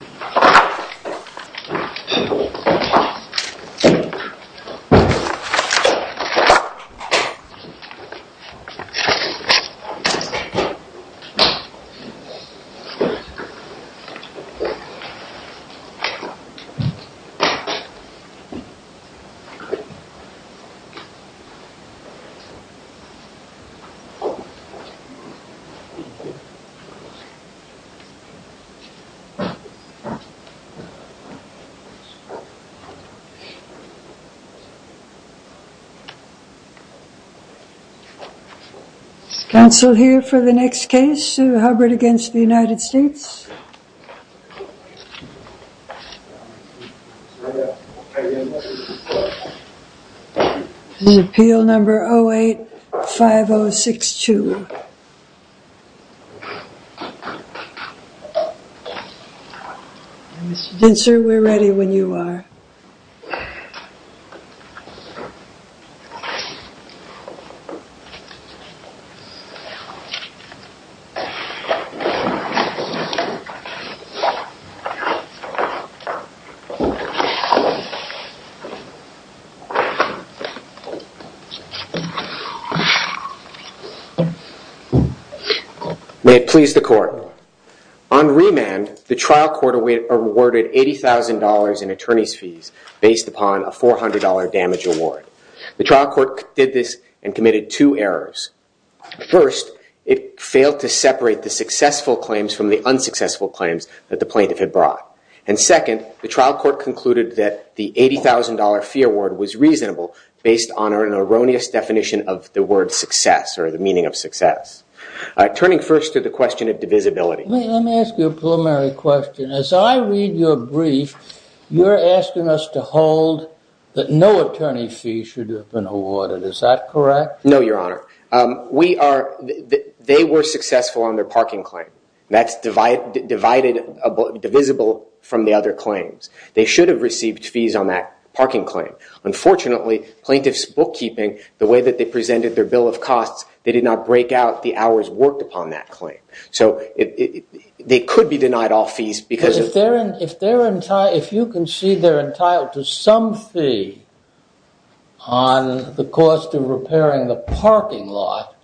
We Epitomize Diversity Response We Epitomize Diversity Response We Epitomize Diversity Response Council here for the next case, Hubbard v. United States. This is appeal number 08-5062 Mr. Dinser, we're ready when you are. May it please the court, on remand the trial court awarded $80,000 in attorney's fees. Based upon a $400 damage award. The trial court did this and committed two errors. First, it failed to separate the successful claims from the unsuccessful claims that the plaintiff had brought. And second, the trial court concluded that the $80,000 fee award was reasonable based on an erroneous definition of the word success or the meaning of success. Turning first to the question of divisibility. Let me ask you a preliminary question. As I read your brief, you're asking us to hold that no attorney's fee should have been awarded. Is that correct? No, your honor. They were successful on their parking claim. That's divisible from the other claims. They should have received fees on that parking claim. Unfortunately, plaintiff's bookkeeping, the way that they presented their bill of costs, they did not break out the hours worked upon that claim. So, they could be denied all fees because of... If you concede they're entitled to some fee on the cost of repairing the parking lot,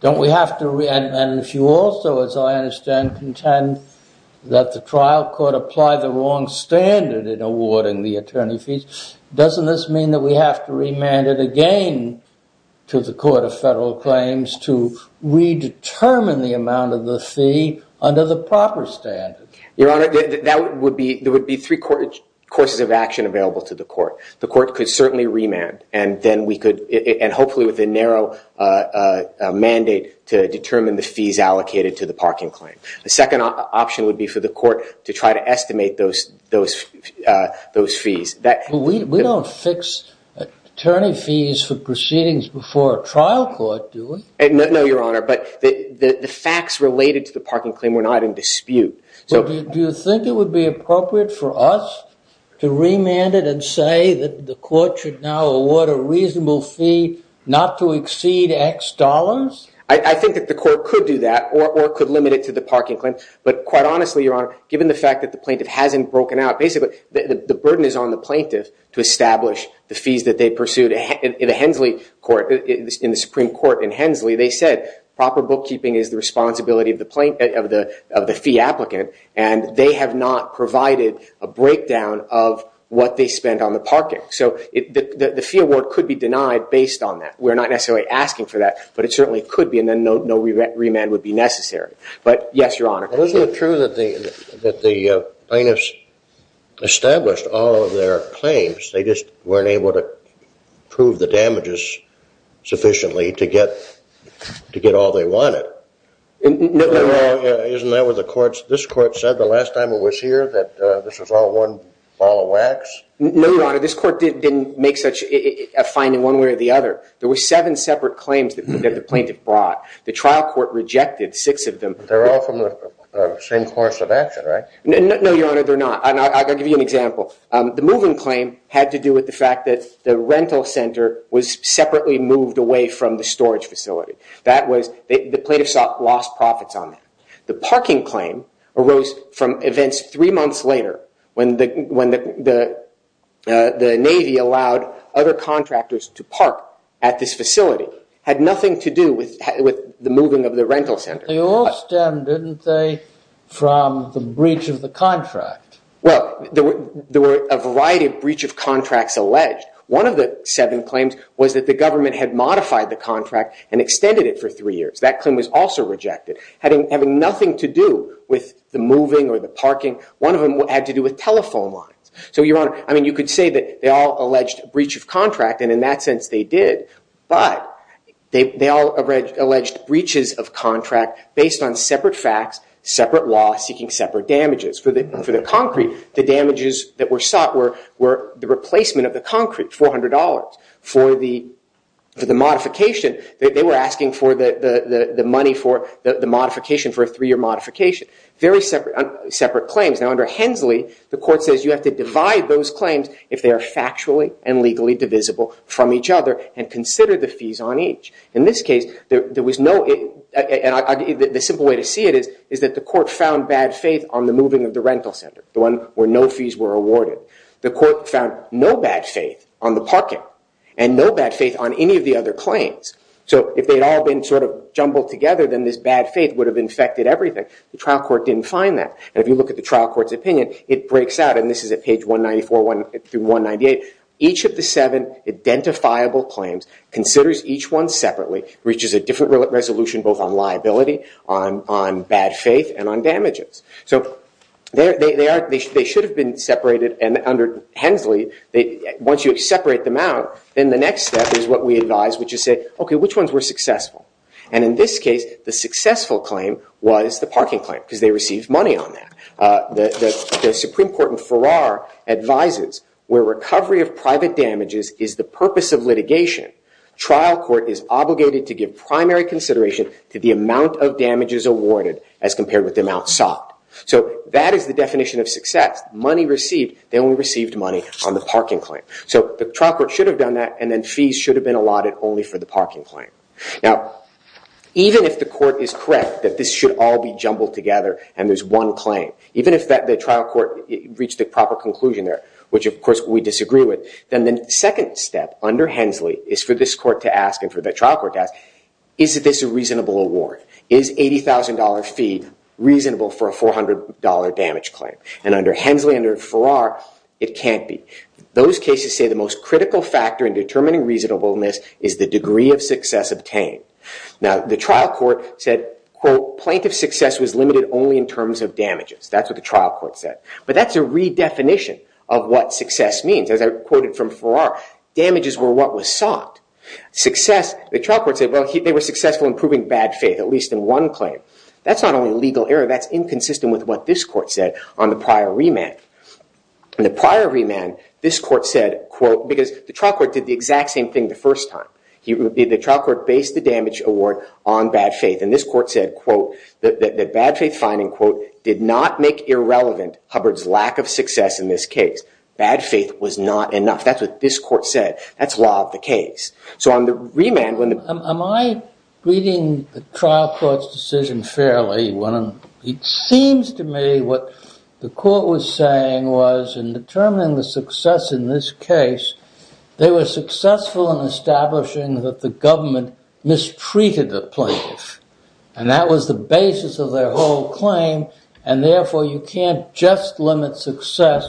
don't we have to... And if you also, as I understand, contend that the trial court applied the wrong standard in awarding the attorney fees, doesn't this mean that we have to remand it again to the amount of the fee under the proper standard? Your honor, there would be three courses of action available to the court. The court could certainly remand and then we could, and hopefully with a narrow mandate, to determine the fees allocated to the parking claim. The second option would be for the court to try to estimate those fees. We don't fix attorney fees for proceedings before a trial court, do we? No, your honor, but the facts related to the parking claim were not in dispute. Do you think it would be appropriate for us to remand it and say that the court should now award a reasonable fee not to exceed X dollars? I think that the court could do that or could limit it to the parking claim, but quite honestly, your honor, given the fact that the plaintiff hasn't broken out, basically, the burden is on the plaintiff to establish the fees that they pursued in the Hensley court, in the Supreme Court in Hensley. They said proper bookkeeping is the responsibility of the fee applicant and they have not provided a breakdown of what they spent on the parking. So the fee award could be denied based on that. We're not necessarily asking for that, but it certainly could be, and then no remand would be necessary. But yes, your honor. Isn't it true that the plaintiffs established all of their claims, they just weren't able to prove the damages sufficiently to get all they wanted? No. Isn't that what this court said the last time it was here, that this was all one ball of wax? No, your honor. This court didn't make such a fine in one way or the other. There were seven separate claims that the plaintiff brought. The trial court rejected six of them. They're all from the same course of action, right? No, your honor, they're not, and I'll give you an example. The moving claim had to do with the fact that the rental center was separately moved away from the storage facility. That was, the plaintiffs lost profits on that. The parking claim arose from events three months later when the Navy allowed other contractors to park at this facility. Had nothing to do with the moving of the rental center. They all stem, didn't they, from the breach of the contract? Well, there were a variety of breach of contracts alleged. One of the seven claims was that the government had modified the contract and extended it for three years. That claim was also rejected. Having nothing to do with the moving or the parking, one of them had to do with telephone lines. So, your honor, I mean, you could say that they all alleged breach of contract, and in that sense they did, but they all alleged breaches of contract based on separate facts, separate law, seeking separate damages. For the concrete, the damages that were sought were the replacement of the concrete, $400. For the modification, they were asking for the money for the modification for a three-year modification. Very separate claims. Now, under Hensley, the court says you have to divide those claims if they are factually and legally divisible from each other and consider the fees on each. In this case, there was no, and the simple way to see it is that the court found bad faith on the moving of the rental center, the one where no fees were awarded. The court found no bad faith on the parking and no bad faith on any of the other claims. So, if they had all been sort of jumbled together, then this bad faith would have infected everything. The trial court didn't find that, and if you look at the trial court's opinion, it breaks out, and this is at page 194 through 198. Each of the seven identifiable claims considers each one separately, reaches a different resolution both on liability, on bad faith, and on damages. So, they should have been separated, and under Hensley, once you separate them out, then the next step is what we advise, which is say, okay, which ones were successful? And in this case, the successful claim was the parking claim, because they received money on that. The Supreme Court in Farrar advises where recovery of private damages is the purpose of litigation, trial court is obligated to give primary consideration to the amount of damages awarded as compared with the amount sought. So, that is the definition of success, money received, they only received money on the parking claim. So, the trial court should have done that, and then fees should have been allotted only for the parking claim. Now, even if the court is correct that this should all be jumbled together and there's one claim, even if the trial court reached a proper conclusion there, which of course we disagree with, then the second step under Hensley is for this court to ask, and for the trial court to ask, is this a reasonable award? Is $80,000 fee reasonable for a $400 damage claim? And under Hensley, under Farrar, it can't be. Those cases say the most critical factor in determining reasonableness is the degree of success obtained. Now, the trial court said, quote, plaintiff success was limited only in terms of damages. That's what the trial court said. But that's a redefinition of what success means. As I quoted from Farrar, damages were what was sought. The trial court said, well, they were successful in proving bad faith, at least in one claim. That's not only a legal error, that's inconsistent with what this court said on the prior remand. The prior remand, this court said, quote, because the trial court did the exact same thing the first time. The trial court based the damage award on bad faith, and this court said, quote, that bad faith finding, quote, did not make irrelevant Hubbard's lack of success in this case. Bad faith was not enough. That's what this court said. That's law of the case. So on the remand, when the- Am I reading the trial court's decision fairly when it seems to me what the court was saying was in determining the success in this case, they were successful in establishing that the government mistreated the plaintiff. And that was the basis of their whole claim, and therefore, you can't just limit success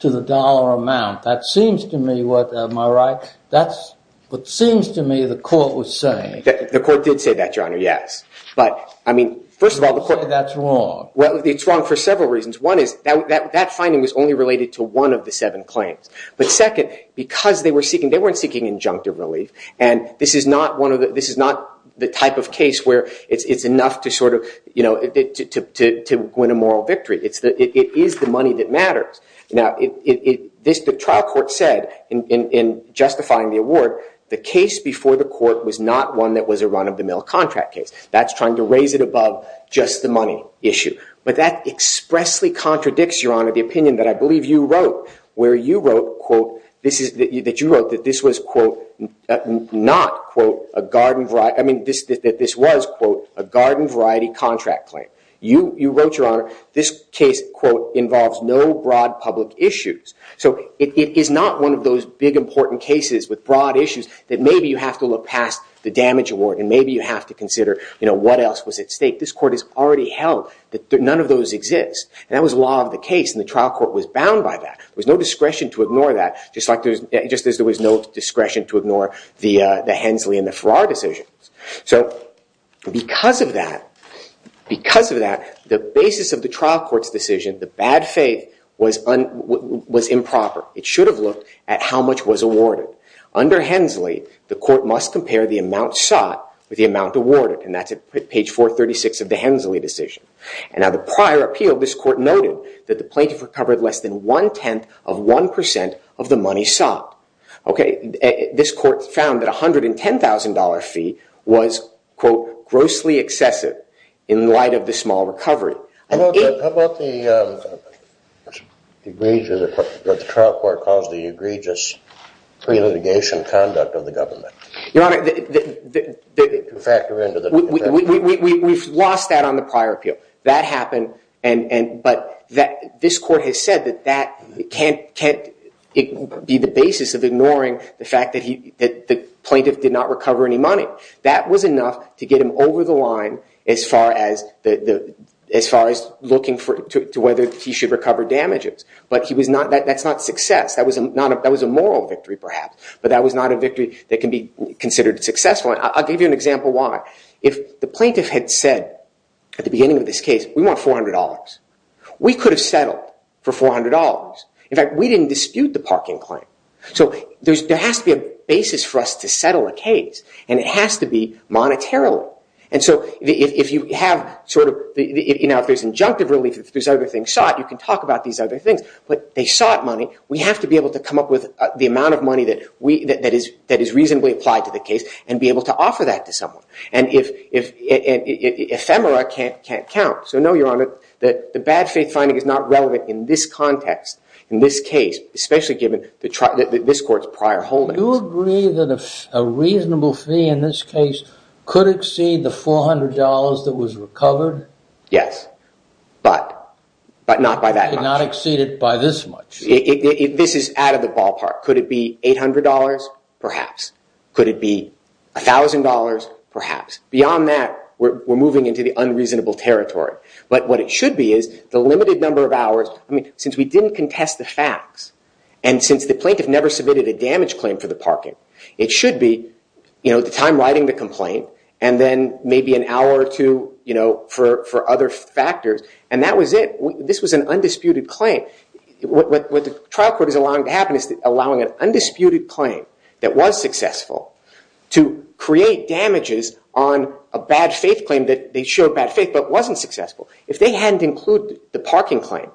to the dollar amount. That seems to me what, am I right, that's what seems to me the court was saying. The court did say that, Your Honor, yes. But I mean, first of all, the court- You say that's wrong. Well, it's wrong for several reasons. One is that that finding was only related to one of the seven claims. But second, because they were seeking, they weren't seeking injunctive relief, and this is not the type of case where it's enough to win a moral victory. It is the money that matters. Now, the trial court said, in justifying the award, the case before the court was not one that was a run-of-the-mill contract case. That's trying to raise it above just the money issue. But that expressly contradicts, Your Honor, the opinion that I believe you wrote, where you wrote, quote, that this was, quote, not, quote, a garden variety- I mean, that this was, quote, a garden variety contract claim. You wrote, Your Honor, this case, quote, involves no broad public issues. So it is not one of those big important cases with broad issues that maybe you have to look past the damage award, and maybe you have to consider, you know, what else was at stake. This court has already held that none of those exist. And that was law of the case, and the trial court was bound by that. There was no discretion to ignore that, just as there was no discretion to ignore the Hensley and the Farrar decisions. So because of that, the basis of the trial court's decision, the bad faith, was improper. It should have looked at how much was awarded. Under Hensley, the court must compare the amount sought with the amount awarded. And that's at page 436 of the Hensley decision. And now, the prior appeal, this court noted that the plaintiff recovered less than one-tenth of one percent of the money sought. Okay, this court found that a $110,000 fee was, quote, grossly excessive in light of the small recovery. How about the egregious- what the trial court calls the egregious pre-litigation conduct of the government? Your Honor, the- Factor into the- We've lost that on the prior appeal. That happened, but this court has said that that can't be the basis of ignoring the fact that the plaintiff did not recover any money. That was enough to get him over the line as far as looking to whether he should recover damages. But that's not success. That was a moral victory, perhaps. But that was not a victory that can be considered successful. I'll give you an example why. If the plaintiff had said at the beginning of this case, we want $400, we could have settled for $400. In fact, we didn't dispute the parking claim. So there has to be a basis for us to settle a case, and it has to be monetarily. And so if you have sort of- you know, if there's injunctive relief, if there's other things sought, you can talk about these other things. But they sought money. We have to be able to come up with the amount of money that is reasonably applied to the case and be able to offer that to someone. And ephemera can't count. So no, Your Honor, the bad faith finding is not relevant in this context, in this case, especially given this court's prior holdings. Do you agree that a reasonable fee in this case could exceed the $400 that was recovered? Yes, but not by that much. It could not exceed it by this much. This is out of the ballpark. Could it be $800? Perhaps. Could it be $1,000? Perhaps. Beyond that, we're moving into the unreasonable territory. But what it should be is the limited number of hours. I mean, since we didn't contest the facts, and since the plaintiff never submitted a damage claim for the parking, it should be, you know, the time riding the complaint and then maybe an hour or two, you know, for other factors. And that was it. This was an undisputed claim. What the trial court is allowing to happen is allowing an undisputed claim that was successful to create damages on a bad faith claim that they showed bad faith but wasn't successful. If they hadn't included the parking claim,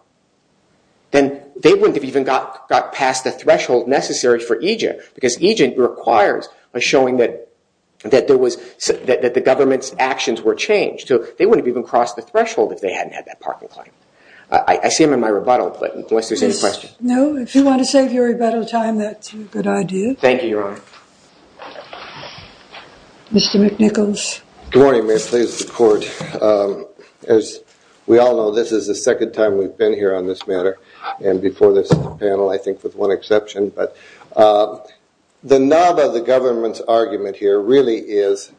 then they wouldn't have even got past the threshold necessary for EJIT because EJIT requires a showing that the government's actions were changed. They wouldn't have even crossed the threshold if they hadn't had that parking claim. I see them in my rebuttal, but unless there's any questions. No. If you want to save your rebuttal time, that's a good idea. Thank you, Your Honor. Mr. McNichols. Good morning, Mayor. Please, the court. As we all know, this is the second time we've been here on this matter, and before this panel, I think, with one exception. But the knob of the government's argument here really is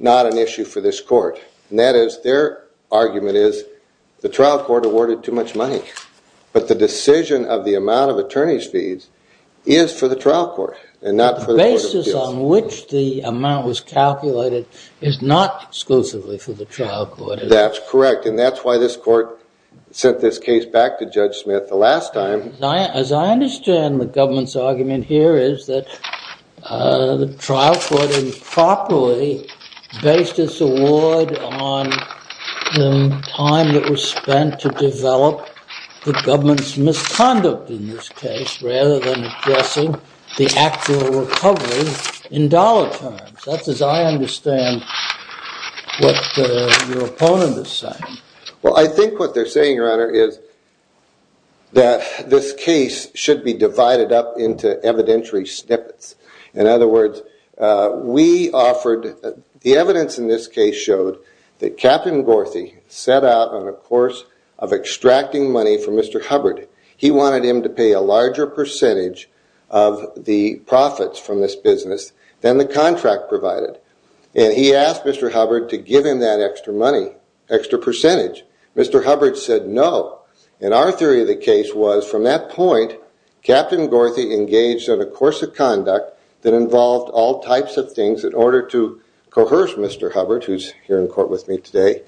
not an issue for this court. And that is, their argument is the trial court awarded too much money. But the decision of the amount of attorney's fees is for the trial court and not for the court of appeals. The basis on which the amount was calculated is not exclusively for the trial court. That's correct. And that's why this court sent this case back to Judge Smith the last time. As I understand the government's argument here is that the trial court improperly based its award on the time that was spent to develop the government's misconduct in this case rather than addressing the actual recovery in dollar terms. That's as I understand what your opponent is saying. Well, I think what they're saying, Your Honor, is that this case should be divided up into evidentiary snippets. In other words, we offered, the evidence in this case showed that Captain Gorthy set out on a course of extracting money from Mr. Hubbard. He wanted him to pay a larger percentage of the profits from this business than the contract provided. And he asked Mr. Hubbard to give him that extra money, extra percentage. Mr. Hubbard said no. And our theory of the case was, from that point, Captain Gorthy engaged in a course of conduct that involved all types of things in order to coerce Mr. Hubbard, who's here in court with me today,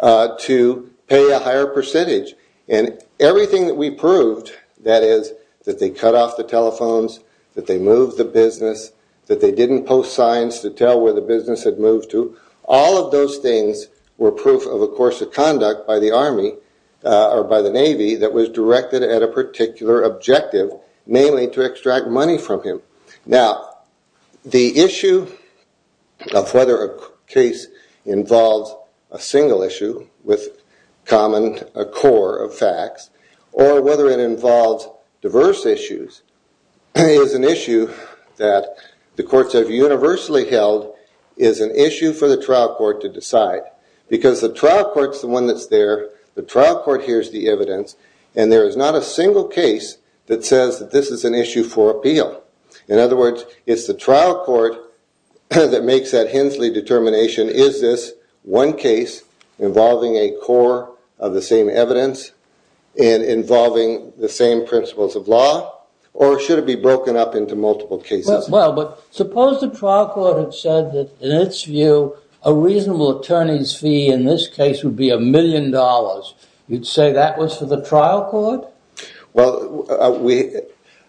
to pay a higher percentage. And everything that we proved, that is, that they cut off the telephones, that they moved the business, that they didn't post signs to tell where the business had moved to, all of those things were proof of a course of conduct by the Army or by the Navy that was directed at a particular objective, namely to extract money from him. Now, the issue of whether a case involves a single issue with common core of facts or whether it involves diverse issues is an issue that the courts have universally held is an issue for the trial court to decide. Because the trial court's the one that's there. The trial court hears the evidence. And there is not a single case that says that this is an issue for appeal. In other words, it's the trial court that makes that Hensley determination. Is this one case involving a core of the same evidence and involving the same principles of law? Or should it be broken up into multiple cases? Well, but suppose the trial court had said that, in its view, a reasonable attorney's fee in this case would be a million dollars. You'd say that was for the trial court? Well,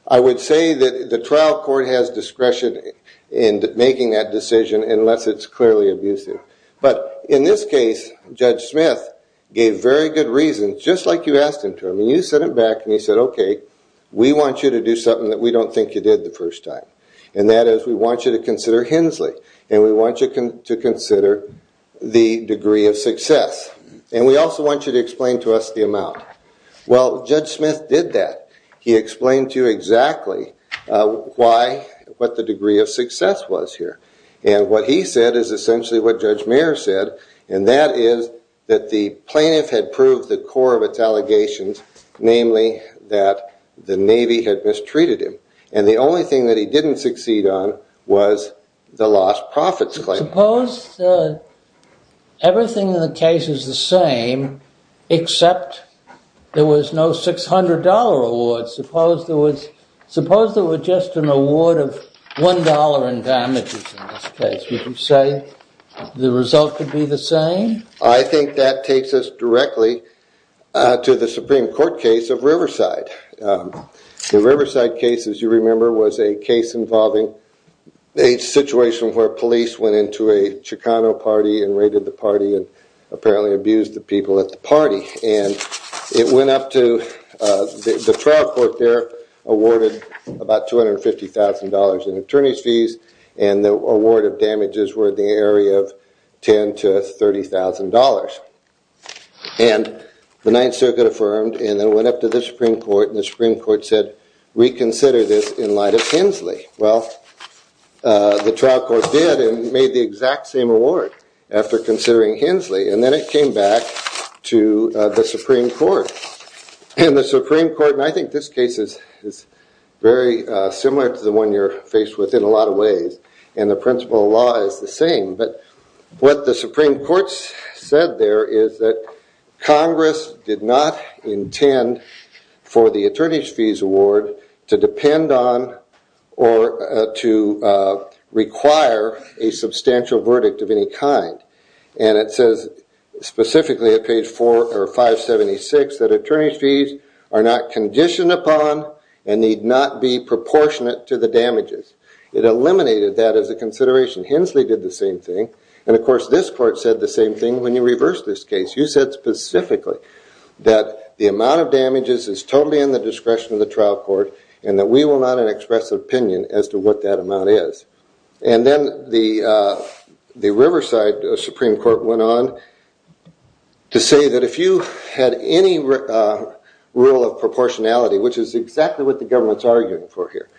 I would say that the trial court has discretion in making that decision unless it's clearly abusive. But in this case, Judge Smith gave very good reasons, just like you asked him to. I mean, you said it back. And he said, OK, we want you to do something that we don't think you did the first time. And that is we want you to consider Hensley. And we want you to consider the degree of success. And we also want you to explain to us the amount. Well, Judge Smith did that. He explained to you exactly what the degree of success was here. And what he said is essentially what Judge Mears said. And that is that the plaintiff had proved the core of its allegations, namely that the Navy had mistreated him. And the only thing that he didn't succeed on was the lost profits claim. Suppose everything in the case is the same except there was no $600 award. Suppose there was just an award of $1 in damages in this case. Would you say the result could be the same? I think that takes us directly to the Supreme Court case of Riverside. The Riverside case, as you remember, was a case involving a situation where police went into a Chicano party and raided the party and apparently abused the people at the party. And the trial court there awarded about $250,000 in attorney's fees. And the award of damages were in the area of $10,000 to $30,000. And the Ninth Circuit affirmed. And then it went up to the Supreme Court. And the Supreme Court said, reconsider this in light of Hensley. Well, the trial court did and made the exact same award after considering Hensley. And then it came back to the Supreme Court. And the Supreme Court, and I think this case is very similar to the one you're faced with in a lot of ways. And the principle of law is the same. But what the Supreme Court said there is that Congress did not intend for the attorney's award to depend on or to require a substantial verdict of any kind. And it says specifically at page 476 that attorney's fees are not conditioned upon and need not be proportionate to the damages. It eliminated that as a consideration. Hensley did the same thing. And of course, this court said the same thing when you reversed this case. You said specifically that the amount of damages is totally in the discretion of the trial court and that we will not express an opinion as to what that amount is. And then the Riverside Supreme Court went on to say that if you had any rule of proportionality, which is exactly what the government's arguing for here.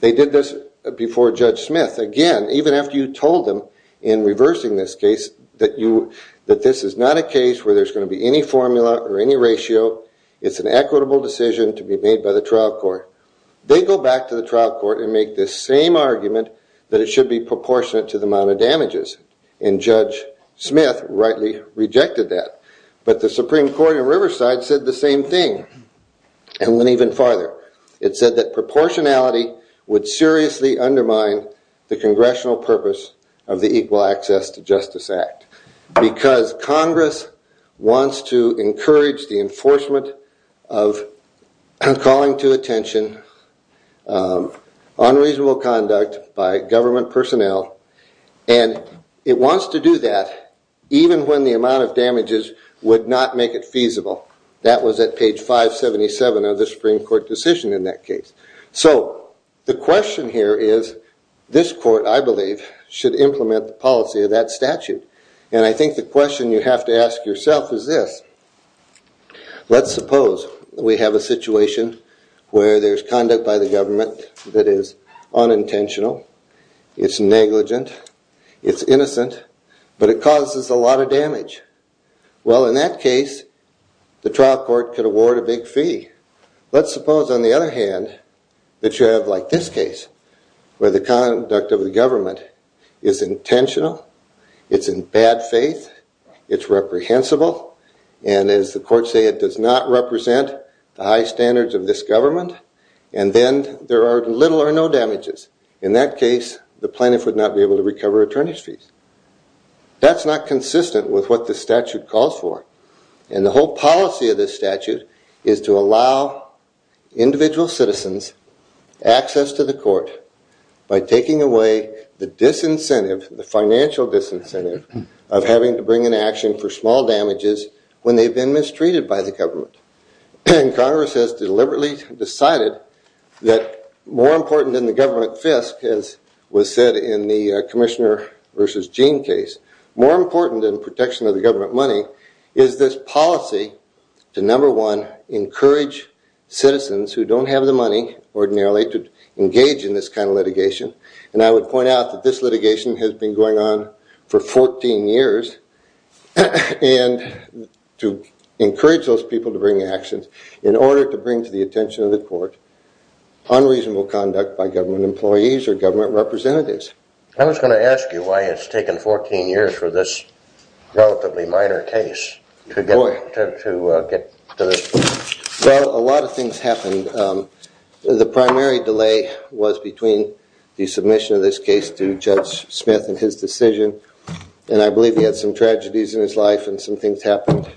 They did this before Judge Smith. Even after you told them in reversing this case that this is not a case where there's going to be any formula or any ratio. It's an equitable decision to be made by the trial court. They go back to the trial court and make this same argument that it should be proportionate to the amount of damages. And Judge Smith rightly rejected that. But the Supreme Court in Riverside said the same thing and went even farther. It said that proportionality would seriously undermine the congressional purpose of the Equal Access to Justice Act because Congress wants to encourage the enforcement of calling to attention unreasonable conduct by government personnel. And it wants to do that even when the amount of damages would not make it feasible. That was at page 577 of the Supreme Court decision in that case. So the question here is this court, I believe, should implement the policy of that statute. And I think the question you have to ask yourself is this. Let's suppose we have a situation where there's conduct by the government that is unintentional, it's negligent, it's innocent, but it causes a lot of damage. Well, in that case, the trial court could award a big fee. Let's suppose, on the other hand, that you have like this case where the conduct of the government is intentional, it's in bad faith, it's reprehensible, and as the courts say, it does not represent the high standards of this government, and then there are little or no damages. In that case, the plaintiff would not be able to recover attorney's fees. That's not consistent with what the statute calls for. And the whole policy of this statute is to allow individual citizens access to the court by taking away the disincentive, the financial disincentive, of having to bring an action for small damages when they've been mistreated by the government. Congress has deliberately decided that more important than the government fisc, as was said in the Commissioner versus Gene case, more important than protection of the government money is this policy to number one, encourage citizens who don't have the money ordinarily to engage in this kind of litigation, and I would point out that this litigation has been going on for 14 years, and to encourage those people to bring actions in order to bring to the attention of the court unreasonable conduct by government employees or government representatives. I was going to ask you why it's taken 14 years for this relatively minor case to get to this point. Well, a lot of things happened. The primary delay was between the submission of this case to Judge Smith and his decision, and I believe he had some tragedies in his life and some things happened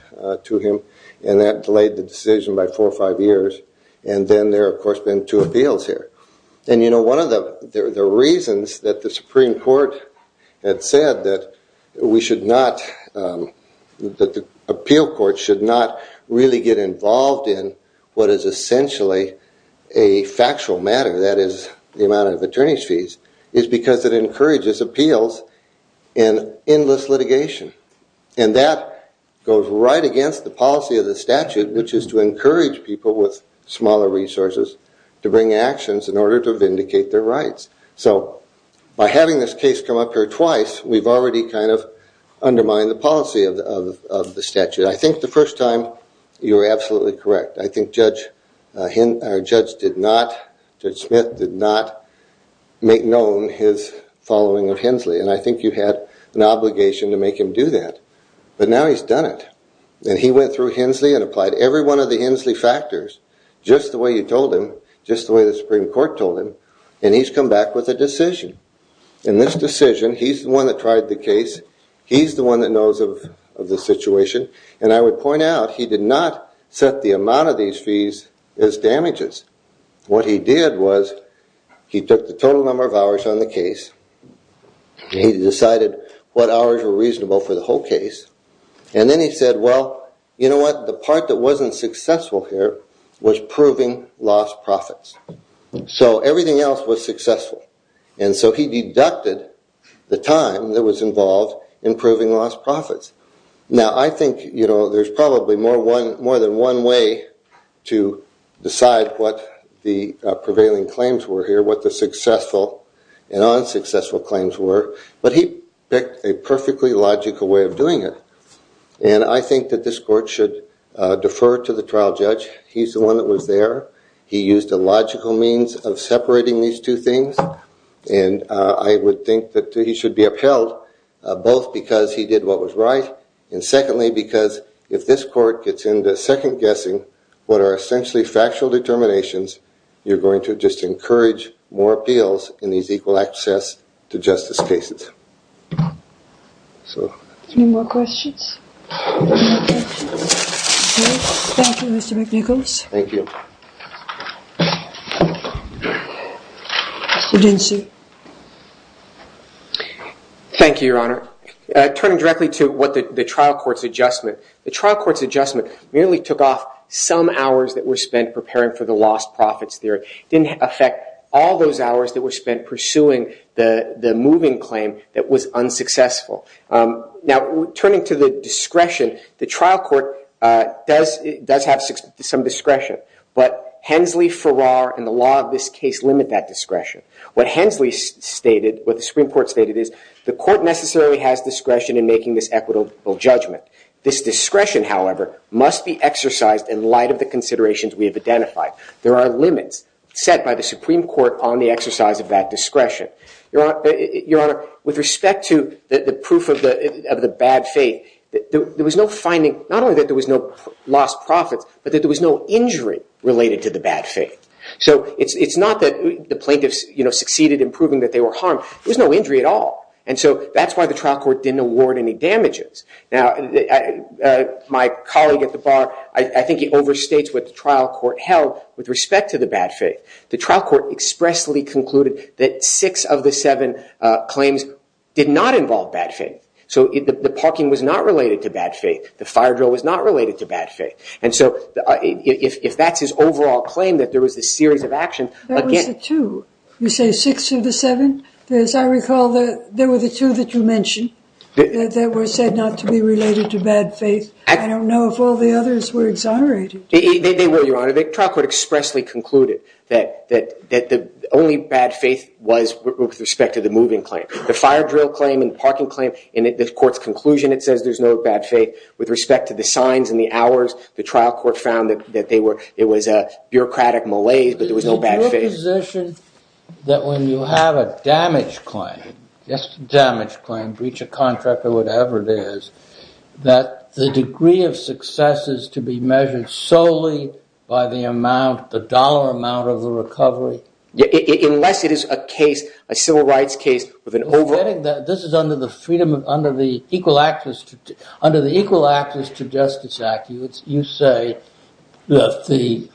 to him, and that delayed the decision by four or five years, and then there, of course, have been two appeals here. One of the reasons that the Supreme Court had said that we should not, that the appeal court should not really get involved in what is essentially a factual matter, that is, the amount of attorney's fees, is because it encourages appeals and endless litigation, and that goes right against the policy of the statute, which is to encourage people with smaller resources to bring actions in order to vindicate their rights. So by having this case come up here twice, we've already kind of undermined the policy of the statute. I think the first time, you were absolutely correct. I think Judge Smith did not make known his following of Hensley, and I think you had an obligation to make him do that, but now he's done it, and he went through Hensley and applied every one of the Hensley factors, just the way you told him, just the way the Supreme Court told him, and he's come back with a decision. In this decision, he's the one that tried the case. He's the one that knows of the situation, and I would point out he did not set the amount of these fees as damages. What he did was he took the total number of hours on the case. He decided what hours were reasonable for the whole case, and then he said, well, you know, the part that wasn't successful here was proving lost profits. So everything else was successful, and so he deducted the time that was involved in proving lost profits. Now, I think there's probably more than one way to decide what the prevailing claims were here, what the successful and unsuccessful claims were, but he picked a perfectly logical way of doing it. And I think that this court should defer to the trial judge. He's the one that was there. He used a logical means of separating these two things, and I would think that he should be upheld, both because he did what was right, and secondly, because if this court gets into second guessing what are essentially factual determinations, you're going to just encourage more appeals in these equal access to justice cases. Any more questions? Thank you, Mr. McNichols. Thank you. Mr. Dinsey. Thank you, Your Honor. Turning directly to what the trial court's adjustment, the trial court's adjustment merely took off some hours that were spent preparing for the lost profits theory. It didn't affect all those hours that were spent pursuing the moving claim that was unsuccessful. Now, turning to the discretion, the trial court does have some discretion, but Hensley, Farrar, and the law of this case limit that discretion. What Hensley stated, what the Supreme Court stated, is the court necessarily has discretion in making this equitable judgment. This discretion, however, must be exercised in light of the considerations we have identified. There are limits set by the Supreme Court on the exercise of that discretion. Your Honor, with respect to the proof of the bad faith, there was no finding, not only that there was no lost profits, but that there was no injury related to the bad faith. So it's not that the plaintiffs succeeded in proving that they were harmed. There was no injury at all. And so that's why the trial court didn't award any damages. Now, my colleague at the bar, I think he overstates what the trial court held with respect to the bad faith. The trial court expressly concluded that six of the seven claims did not involve bad faith. So the parking was not related to bad faith. The fire drill was not related to bad faith. And so if that's his overall claim, that there was a series of actions. That was the two. You say six of the seven? As I recall, there were the two that you mentioned that were said not to be related to bad faith. I don't know if all the others were exonerated. They were, Your Honor. The trial court expressly concluded that the only bad faith was with respect to the moving claim. The fire drill claim and the parking claim. In the court's conclusion, it says there's no bad faith. With respect to the signs and the hours, the trial court found that it was a bureaucratic malaise, but there was no bad faith. Is there a position that when you have a damage claim, just a damage claim, breach a contract or whatever it is, that the degree of success is to be measured solely by the amount, the dollar amount of the recovery? Unless it is a case, a civil rights case with an overall... This is under the freedom of, under the Equal Access to Justice Act. You say that the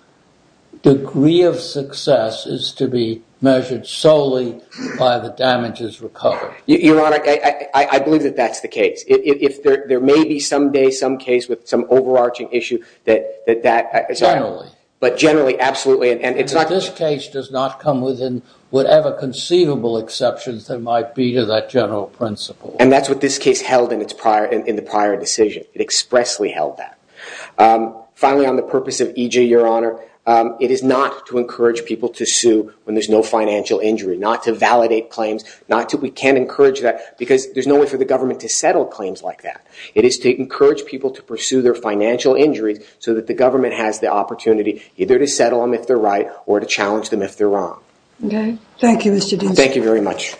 degree of success is to be measured solely by the damages recovered. Your Honor, I believe that that's the case. There may be someday some case with some overarching issue that that... Generally. But generally, absolutely. This case does not come within whatever conceivable exceptions there might be to that general principle. And that's what this case held in the prior decision. It expressly held that. Finally, on the purpose of EJ, Your Honor, it is not to encourage people to sue when there's no financial injury, not to validate claims, not to... We can't encourage that because there's no way for the government to settle claims like that. It is to encourage people to pursue their financial injuries so that the government has the opportunity either to settle them if they're right or to challenge them if they're wrong. Okay. Thank you, Mr. Ducey. Thank you very much.